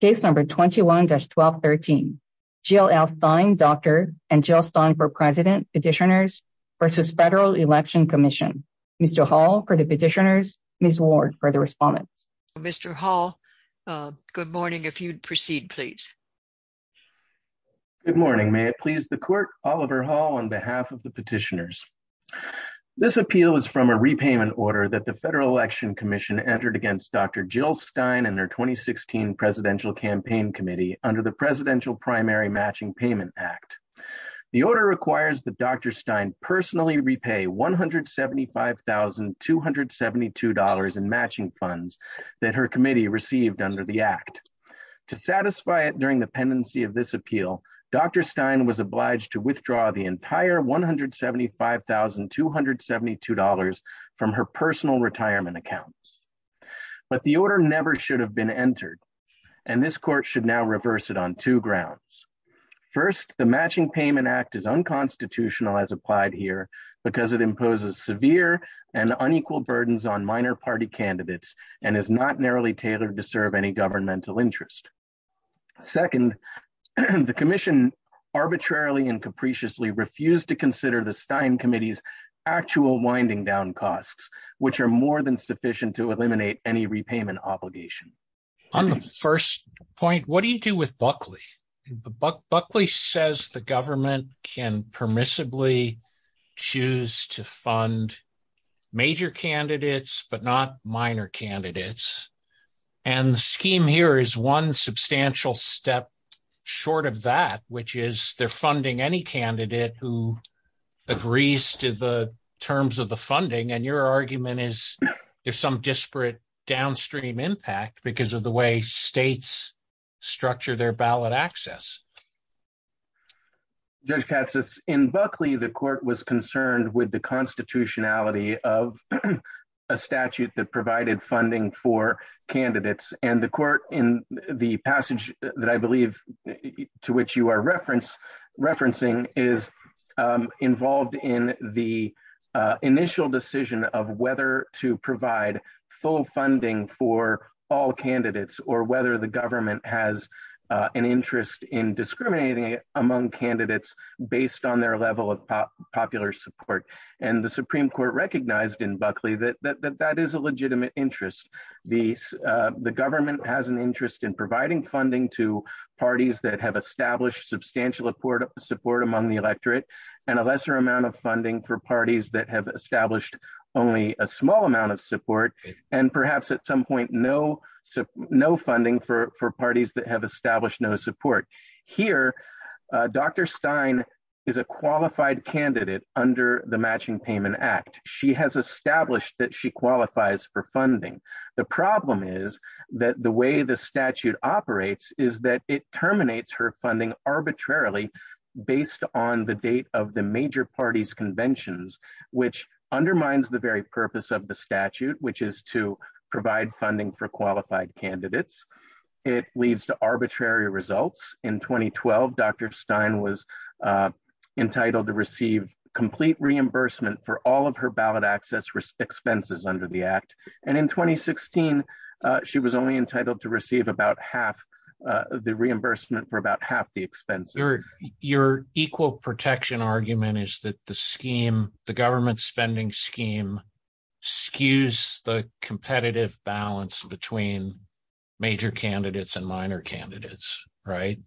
Case number 21-1213. Jill L. Stein, Dr. and Jill Stein for President, Petitioners versus Federal Election Commission. Mr. Hall for the Petitioners, Ms. Ward for the Respondents. Mr. Hall, good morning. If you'd proceed, please. Good morning. May it please the Court, Oliver Hall on behalf of the Petitioners. This appeal is from a repayment order that the Federal Election Commission entered against Dr. Stein's 2016 Presidential Campaign Committee under the Presidential Primary Matching Payment Act. The order requires that Dr. Stein personally repay $175,272 in matching funds that her committee received under the act. To satisfy it during the pendency of this appeal, Dr. Stein was obliged to withdraw the entire $175,272 from her personal retirement account. But the order never should have been entered, and this Court should now reverse it on two grounds. First, the Matching Payment Act is unconstitutional as applied here because it imposes severe and unequal burdens on minor party candidates and is not narrowly tailored to serve any governmental interest. Second, the Commission arbitrarily and capriciously refused to consider the Stein Committee's actual winding down costs, which are more than sufficient to eliminate any repayment obligation. On the first point, what do you do with Buckley? Buckley says the government can permissibly choose to fund major candidates but not minor candidates, and the scheme here is one substantial step short of that, which is they're funding any candidate who agrees to the terms of funding, and your argument is there's some disparate downstream impact because of the way states structure their ballot access. Judge Katsas, in Buckley, the Court was concerned with the constitutionality of a statute that provided funding for candidates, and the Court in the decision of whether to provide full funding for all candidates or whether the government has an interest in discriminating among candidates based on their level of popular support, and the Supreme Court recognized in Buckley that that is a legitimate interest. The government has an interest in providing funding to parties that have established substantial support among the electorate and a lesser amount of funding for parties that have established only a small amount of support, and perhaps at some point no funding for parties that have established no support. Here, Dr. Stein is a qualified candidate under the Matching Payment Act. She has established that she qualifies for funding. The problem is that the way the statute operates is that it the date of the major parties' conventions, which undermines the very purpose of the statute, which is to provide funding for qualified candidates. It leads to arbitrary results. In 2012, Dr. Stein was entitled to receive complete reimbursement for all of her ballot access expenses under the Act, and in 2016, she was only entitled to receive about half the reimbursement for about half the expenses. Your equal protection argument is that the scheme, the government spending scheme, skews the competitive balance between major candidates and minor candidates, right?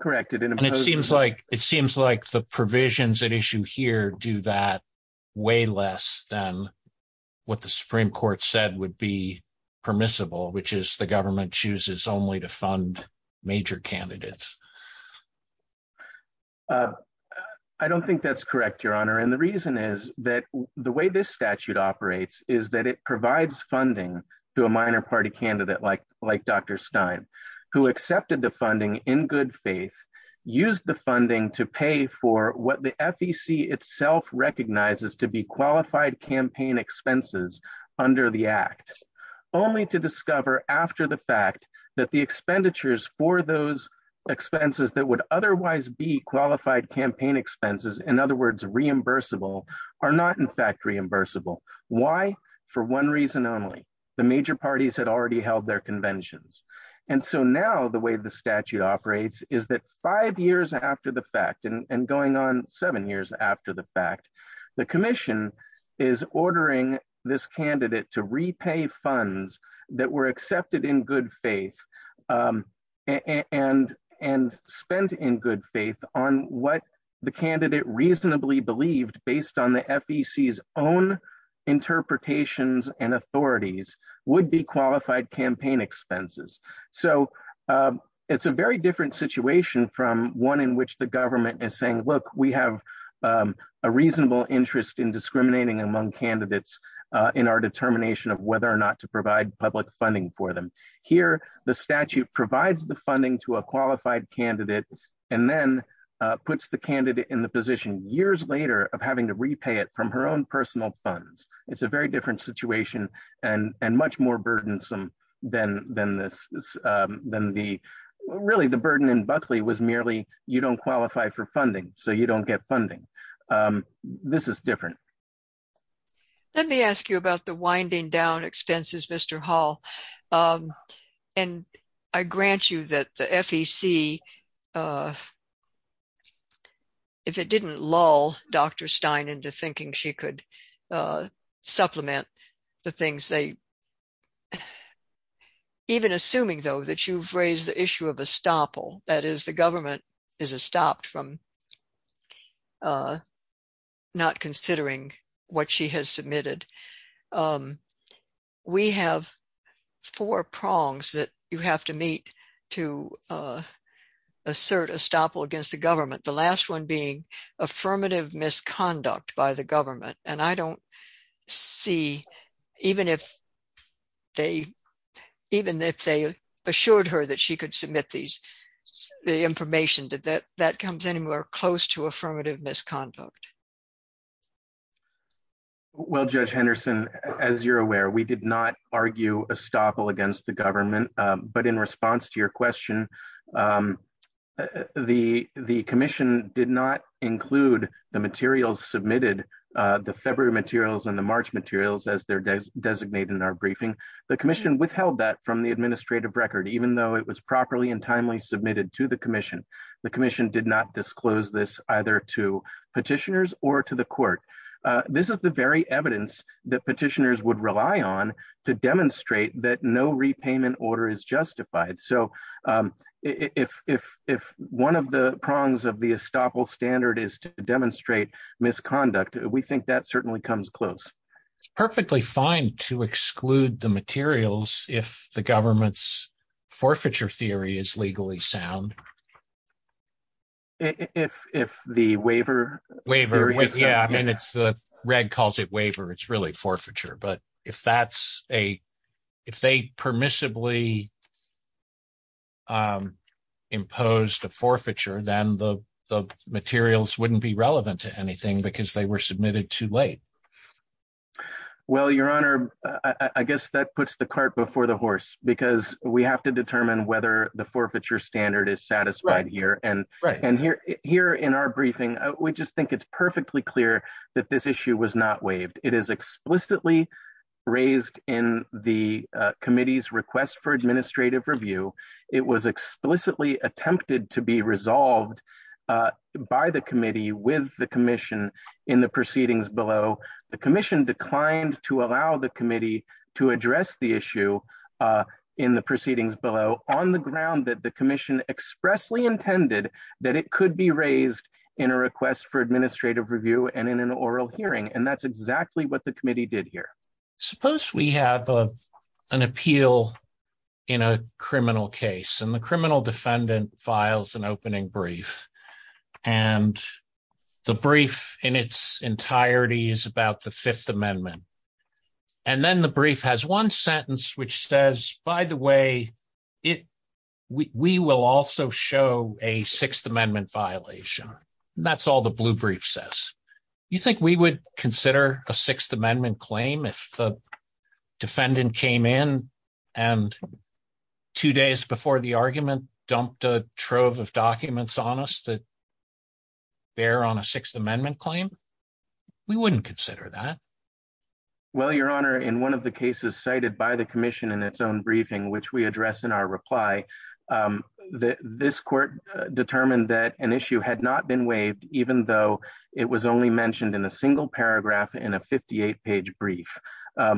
Correct. And it seems like the provisions at issue here do that way less than what the Supreme Court said would be permissible, which is the government chooses only to fund major candidates. I don't think that's correct, Your Honor, and the reason is that the way this statute operates is that it provides funding to a minor party candidate like Dr. Stein, who accepted the funding in good faith, used the funding to pay for what the FEC itself recognizes to be qualified campaign expenses under the Act, only to discover after the fact that the expenditures for those expenses that would otherwise be qualified campaign expenses, in other words, reimbursable, are not in fact reimbursable. Why? For one reason only. The major parties had already held their conventions. And so now the way the statute operates is that five years after the fact, and going on seven years after the fact, the commission is ordering this candidate to repay funds that were accepted in good faith and spent in good faith on what the candidate reasonably believed, based on the FEC's own interpretations and authorities, would be qualified campaign expenses. So it's a very different situation from one in which the government is saying, look, we have a reasonable interest in discriminating among candidates in our determination of whether or not to provide public funding for them. Here, the statute provides the funding to a qualified candidate and then puts the candidate in the position years later of having to repay it from her own personal funds. It's a very different situation and much more burdensome than this, than the, really the burden in Buckley was merely you don't qualify for funding, so you don't get funding. This is different. Let me ask you about the winding down expenses, Mr. Hall, and I grant you that the FEC, if it didn't lull Dr. Stein into thinking she could supplement the things they, even assuming, though, that you've raised the issue of estoppel, that is the government is estopped from not considering what she has submitted. We have four prongs that you have to to assert estoppel against the government, the last one being affirmative misconduct by the government, and I don't see, even if they assured her that she could submit these, the information, that that comes anywhere close to affirmative misconduct. Well, Judge Henderson, as you're aware, we did not argue estoppel against the government, but in response to your question, the commission did not include the materials submitted, the February materials and the March materials, as they're designated in our briefing. The commission withheld that from the administrative record, even though it was properly and timely submitted to the commission. The commission did not disclose this either to petitioners or to the court. This is the very evidence that petitioners would rely on to demonstrate that no repayment order is justified. So, if one of the prongs of the estoppel standard is to demonstrate misconduct, we think that certainly comes close. It's perfectly fine to exclude the materials if the government's forfeiture theory is legally sound. If the waiver? Waiver, yeah, Red calls it waiver. It's really forfeiture. But if they permissibly imposed a forfeiture, then the materials wouldn't be relevant to anything because they were submitted too late. Well, Your Honor, I guess that puts the cart before the horse, because we have to determine whether the forfeiture standard is satisfied here. And here in our briefing, we just think it's perfectly clear that this issue was not waived. It is explicitly raised in the committee's request for administrative review. It was explicitly attempted to be resolved by the committee with the commission in the proceedings below. The commission declined to allow the committee to address the issue in the proceedings below, on the ground that the commission expressly intended that it could be raised in a request for administrative review and in an oral hearing. And that's exactly what the committee did here. Suppose we have an appeal in a criminal case, and the criminal defendant files an opening brief. And the brief in its entirety is about the Fifth Amendment. And then the brief has one sentence which says, by the way, we will also show a Sixth Amendment violation. That's all the blue brief says. You think we would consider a Sixth Amendment claim if the defendant came in and two days before the argument dumped a trove of documents on us that bear on a Sixth Amendment claim? We wouldn't consider that. Well, Your Honor, in one of the cases cited by the commission in its own briefing, which we address in our reply, this court determined that an issue had not been waived, even though it was only mentioned in a single paragraph in a 58-page brief.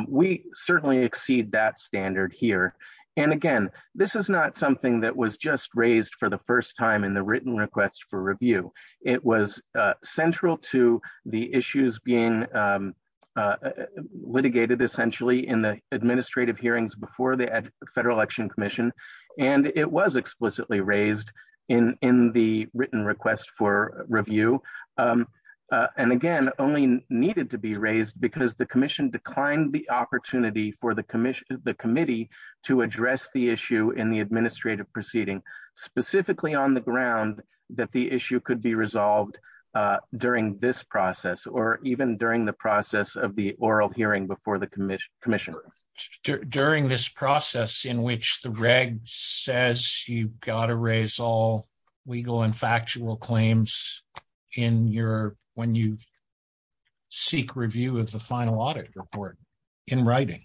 We certainly exceed that standard here. And again, this is not something that was just raised for the first time in the written request for review. It was central to the issues being litigated essentially in the administrative hearings before the Federal Election Commission, and it was explicitly raised in the written request for review. And again, only needed to be raised because the commission declined the opportunity for the committee to address the issue in the administrative proceeding, specifically on the ground that the issue could be resolved during this process or even during the process of the oral hearing before the commission. During this process in which the reg says you've got to raise all legal and factual claims when you seek review of the final audit report in writing.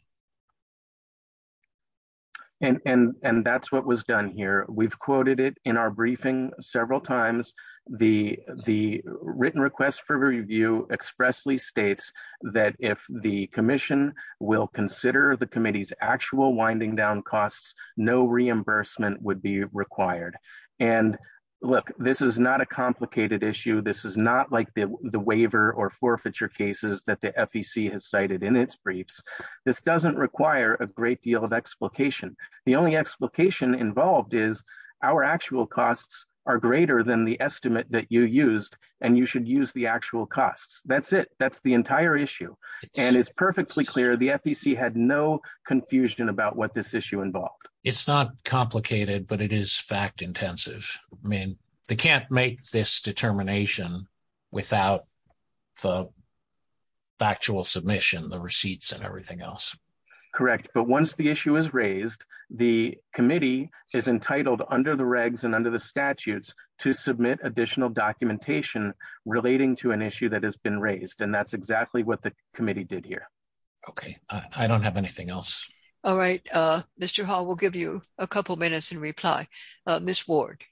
And that's what was done here. We've quoted it in our briefing several times. The written request for review expressly states that if the commission will consider the committee's actual winding down costs, no reimbursement would be required. And look, this is not a complicated issue. This is not like the waiver or forfeiture cases that the FEC has cited in its briefs. This doesn't require a great deal of explication. The only explication involved is our actual costs are greater than the estimate that you used, and you should use the actual costs. That's it. That's the entire issue. And it's perfectly clear the FEC had no confusion about what this issue involved. It's not complicated, but it is fact intensive. I mean, they can't make this determination without the factual submission, the receipts, and everything else. Correct. But once the issue is raised, the committee is entitled under the regs and under the statutes to submit additional documentation relating to an issue that has been raised. And that's exactly what the committee did here. Okay. I don't have anything else. All right. Mr. Hall, we'll give you a couple minutes in reply. Ms. Ward.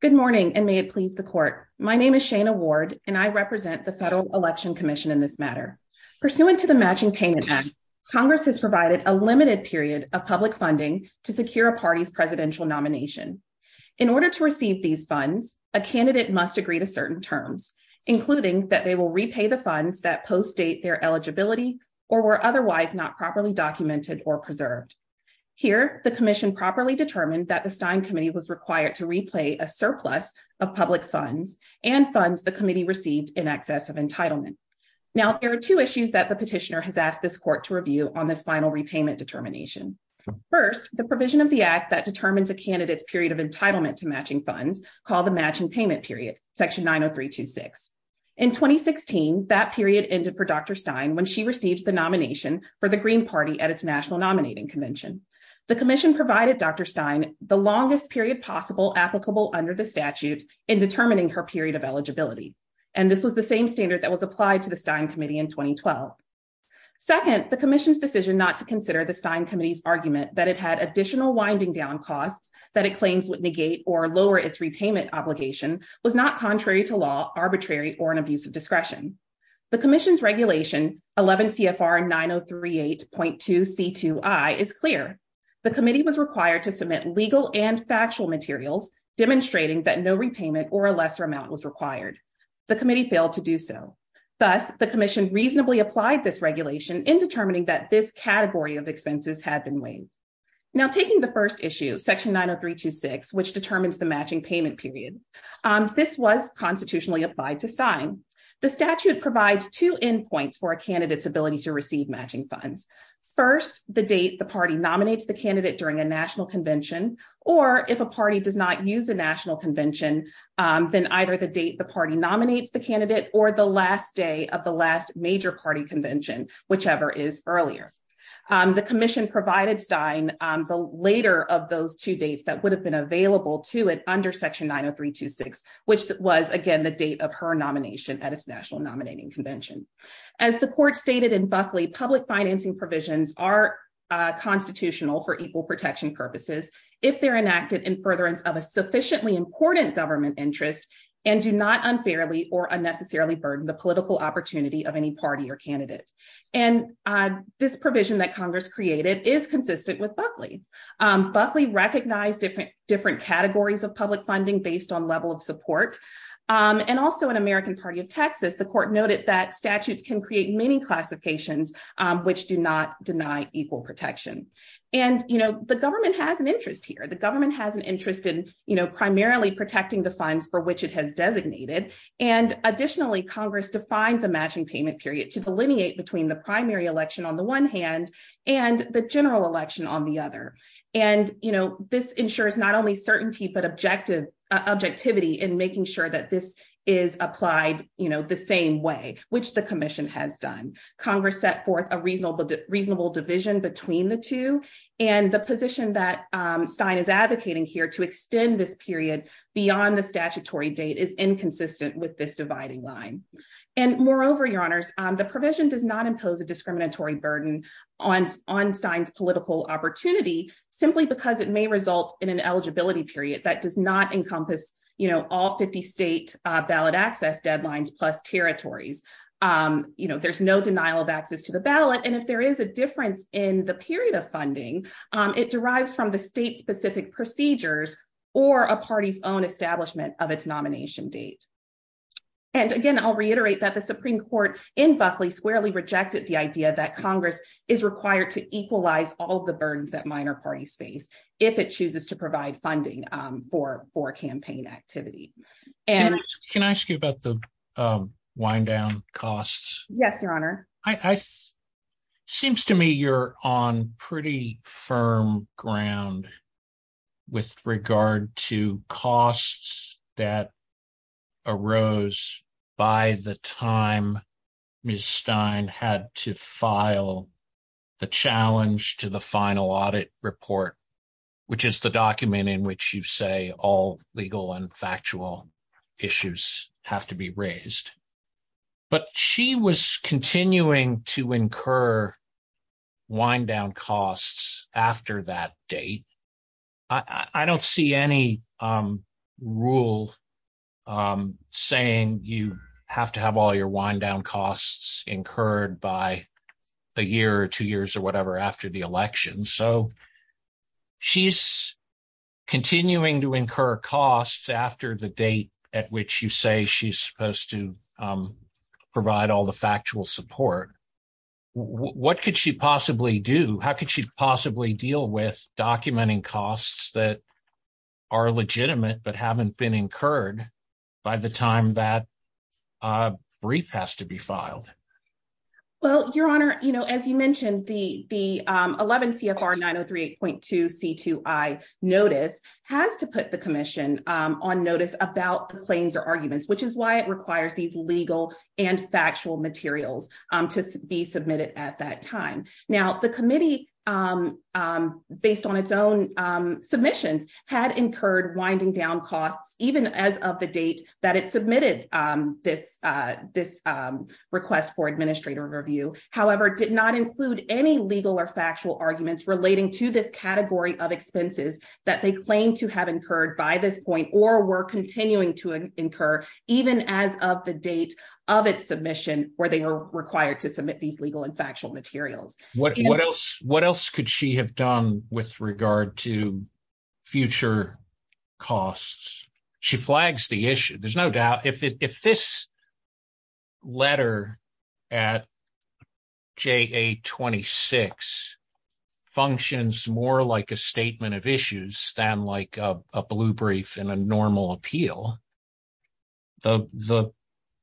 Good morning, and may it please the court. My name is Shana Ward, and I represent the Federal Election Commission in this matter. Pursuant to the Matching Payment Act, Congress has provided a limited period of public funding to secure a party's presidential nomination. In order to receive these funds, a candidate must agree to certain terms, including that they will repay the funds that post-date their eligibility or were otherwise not properly documented or preserved. Here, the commission properly determined that the Stein Committee was required to replay a surplus of public funds and funds the committee received in excess of entitlement. Now, there are two issues that the petitioner has asked this court to review on this final repayment determination. First, the provision of the act that determines a candidate's period of entitlement to matching funds, called the matching payment period, Section 90326. In 2016, that period ended for Dr. Stein when she received the nomination for the Green Party at its national nominating convention. The commission provided Dr. Stein the longest period possible applicable under the statute in determining her period of eligibility, and this was the same standard that was applied to the Stein Committee in 2012. Second, the commission's decision not to consider the Stein Committee's argument that it had additional winding down costs that it claims would negate or lower its repayment obligation was not contrary to law, arbitrary, or an abuse of discretion. The commission's regulation, 11 CFR 9038.2 C2I, is clear. The committee was required to submit legal and factual materials demonstrating that no repayment or a lesser amount was required. The committee failed to do so. Thus, the commission reasonably applied this regulation in determining that this category of expenses had been waived. Now, taking the first issue, Section 90326, which determines the matching payment period, this was constitutionally applied to Stein. The statute provides two endpoints for a candidate's ability to receive matching funds. First, the date the party nominates the candidate during a national convention, or if a party does not use a national convention, then either the date the party nominates the candidate or the last day of the last major party convention, whichever is earlier. The commission provided Stein the later of those two dates that would be later Section 90326, which was again the date of her nomination at its national nominating convention. As the court stated in Buckley, public financing provisions are constitutional for equal protection purposes if they're enacted in furtherance of a sufficiently important government interest and do not unfairly or unnecessarily burden the political opportunity of any party or candidate. And this provision that Congress created is consistent with Buckley. Buckley recognized different categories of public funding based on level of support. And also, in American Party of Texas, the court noted that statutes can create many classifications, which do not deny equal protection. And the government has an interest here. The government has an interest in primarily protecting the funds for which it has designated. And additionally, Congress defined the matching payment period to delineate between the primary election on the one hand and the general election on the other. And this ensures not only certainty, but objectivity in making sure that this is applied the same way, which the commission has done. Congress set forth a reasonable division between the two. And the position that Stein is advocating here to extend this period beyond the statutory date is inconsistent with this dividing line. And moreover, the provision does not impose a discriminatory burden on Stein's political opportunity simply because it may result in an eligibility period that does not encompass all 50 state ballot access deadlines plus territories. There's no denial of access to the ballot. And if there is a difference in the period of funding, it derives from the state-specific procedures or a party's own in Buckley squarely rejected the idea that Congress is required to equalize all the burdens that minor parties face if it chooses to provide funding for campaign activity. Can I ask you about the wind down costs? Yes, Your Honor. Seems to me you're on pretty firm ground with regard to costs that arose by the time Ms. Stein had to file the challenge to the final audit report, which is the document in which you say all legal and factual issues have to be raised. But she was continuing to incur wind down costs after that date. I don't see any rule of saying you have to have all your wind down costs incurred by a year or two years or whatever after the election. So she's continuing to incur costs after the date at which you say she's supposed to provide all the factual support. What could she possibly do? How could she possibly deal with documenting costs that are legitimate but haven't been incurred by the time that a brief has to be filed? Well, Your Honor, as you mentioned, the 11 CFR 9038.2 C2I notice has to put the commission on notice about the claims or arguments, which is why it requires these legal and factual materials to be submitted at that time. Now, the committee, based on its own submissions, had incurred winding down costs even as of the date that it submitted this request for administrative review, however, did not include any legal or factual arguments relating to this category of expenses that they claim to have incurred by this point or were of its submission where they are required to submit these legal and factual materials. What else could she have done with regard to future costs? She flags the issue. There's no doubt if this letter at JA 26 functions more like a statement of issues than like a blue brief in a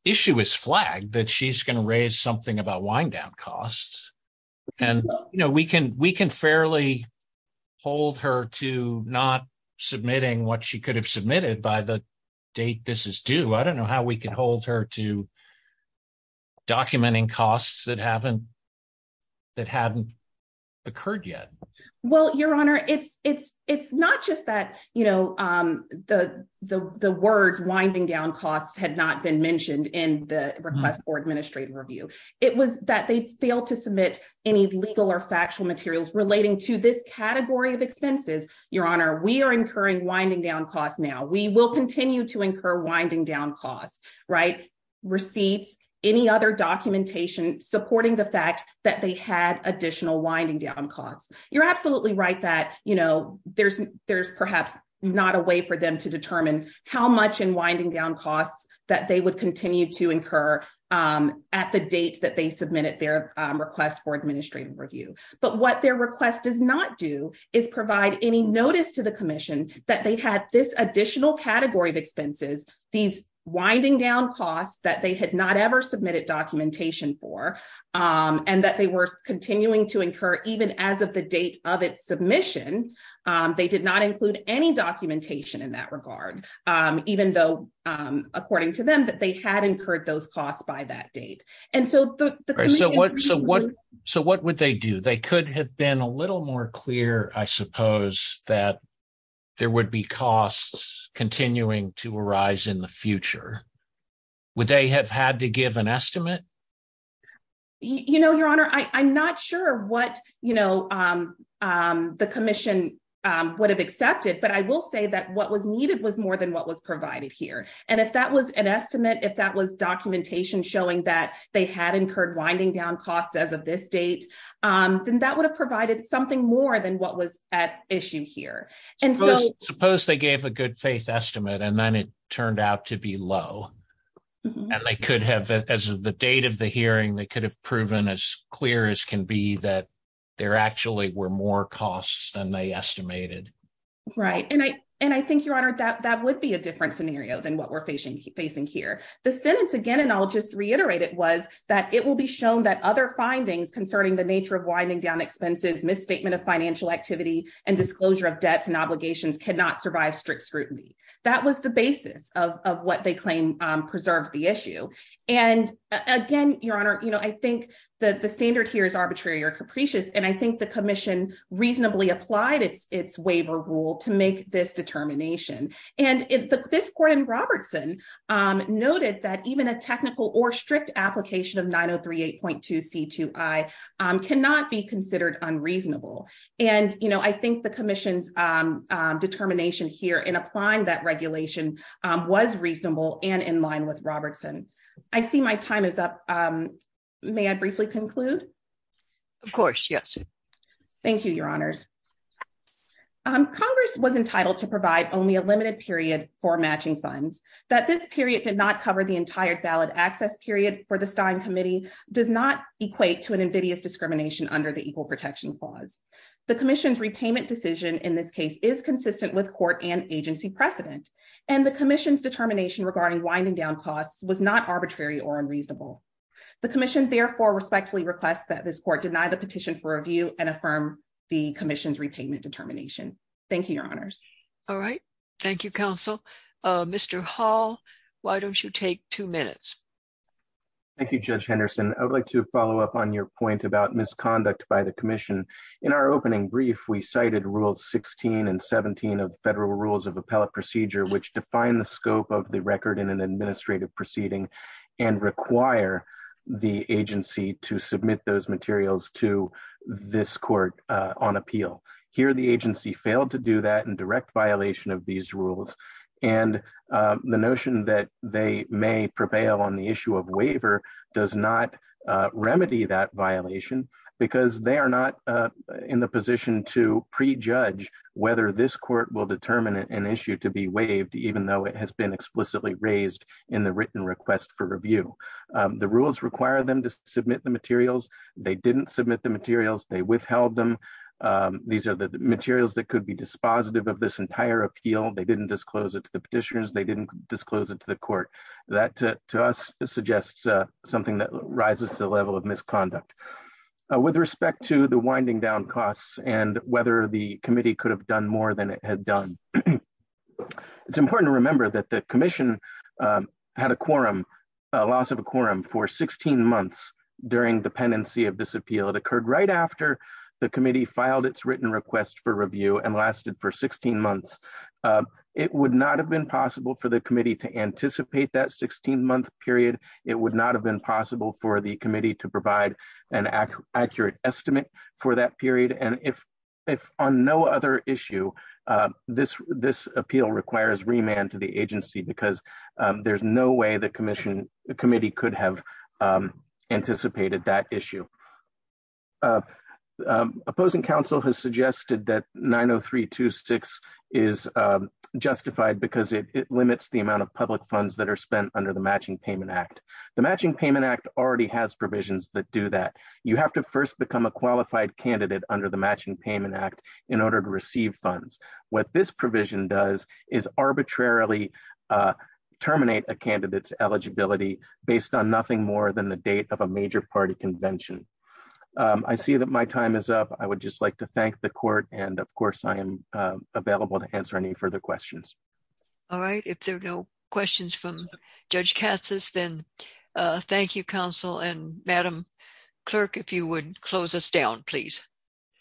issue is flagged that she's going to raise something about wind down costs. And, you know, we can we can fairly hold her to not submitting what she could have submitted by the date this is due. I don't know how we can hold her to documenting costs that haven't that hadn't occurred yet. Well, Your Honor, it's it's it's not just that, the the words winding down costs had not been mentioned in the request for administrative review. It was that they failed to submit any legal or factual materials relating to this category of expenses. Your Honor, we are incurring winding down costs now. We will continue to incur winding down costs, right? Receipts, any other documentation supporting the fact that they had additional winding down costs. You're absolutely right that, you know, there's there's not a way for them to determine how much in winding down costs that they would continue to incur at the date that they submitted their request for administrative review. But what their request does not do is provide any notice to the commission that they had this additional category of expenses, these winding down costs that they had not ever submitted documentation for, and that they were continuing to incur even as of the date of its submission. They did not include any documentation in that regard, even though, according to them, that they had incurred those costs by that date. And so, so what so what so what would they do? They could have been a little more clear, I suppose, that there would be costs continuing to arise in the future. Would they have had to give an estimate? You know, Your Honor, I'm not sure what, you know, the commission would have accepted. But I will say that what was needed was more than what was provided here. And if that was an estimate, if that was documentation showing that they had incurred winding down costs as of this date, then that would have provided something more than what was at issue here. And so suppose they gave a good faith estimate, and then it turned out to be low. And they could have as the date of the hearing, they could have proven as clear as can be that there actually were more costs than they estimated. Right. And I, and I think, Your Honor, that that would be a different scenario than what we're facing, facing here. The sentence again, and I'll just reiterate it was that it will be shown that other findings concerning the nature of winding down expenses, misstatement of financial activity, and disclosure of debts and obligations cannot survive strict scrutiny. That was the basis of what they claim preserved the issue. And again, Your Honor, you know, I think that the standard here is arbitrary or capricious. And I think the commission reasonably applied its its waiver rule to make this determination. And if this Gordon Robertson noted that even a technical or strict application of 903 8.2 c two, I cannot be considered unreasonable. And you know, I think the commission's determination here in applying that regulation was reasonable and in line with Robertson. I see my time is up. May I briefly conclude? Of course, yes. Thank you, Your Honors. Congress was entitled to provide only a limited period for matching funds that this period did not cover the entire ballot access period for the Stein committee does not equate to an invidious discrimination under the Equal Protection Clause. The commission's repayment decision in this case is consistent with court and agency precedent. And the commission's determination regarding winding down costs was not arbitrary or unreasonable. The commission therefore respectfully request that this court deny the petition for review and affirm the commission's repayment determination. Thank you, Your Honors. All right. Thank you, Council. Mr. Hall. Why don't you take two minutes? Thank you, Judge Henderson. I would like to follow up on your point about misconduct by the commission. In our opening brief, we cited rules 16 and 17 of federal rules of appellate procedure, which define the scope of the record in an administrative proceeding and require the agency to submit those materials to this court on appeal. Here, the agency failed to do that in direct violation of these rules. And the notion that they may prevail on the issue of waiver does not remedy that violation because they are not in the position to prejudge whether this court will determine an issue to be waived, even though it has been explicitly raised in the written request for review. The rules require them to submit the materials. They didn't submit the materials. They withheld them. These are the materials that could be dispositive of this entire appeal. They didn't disclose it to the petitioners. They didn't disclose it to the court. That to us suggests something that rises to the level of misconduct. With respect to the winding down costs and whether the committee could have done more than it had done, it's important to remember that the commission had a quorum, a loss of a quorum for 16 months during the pendency of this appeal. It occurred right after the committee filed its written request for review and lasted for 16 months. It would not have been possible for the committee to anticipate that 16-month period. It would not have been possible for the committee to provide an accurate estimate for that period. And if on no other issue, this appeal requires remand to the agency because there's no way the commission, the committee could have anticipated that issue. The opposing counsel has suggested that 90326 is justified because it limits the amount of public funds that are spent under the Matching Payment Act. The Matching Payment Act already has provisions that do that. You have to first become a qualified candidate under the Matching Payment Act in order to receive funds. What this provision does is arbitrarily terminate a party convention. I see that my time is up. I would just like to thank the court and, of course, I am available to answer any further questions. All right. If there are no questions from Judge Katsas, then thank you, counsel. And Madam Clerk, if you would close us down, please.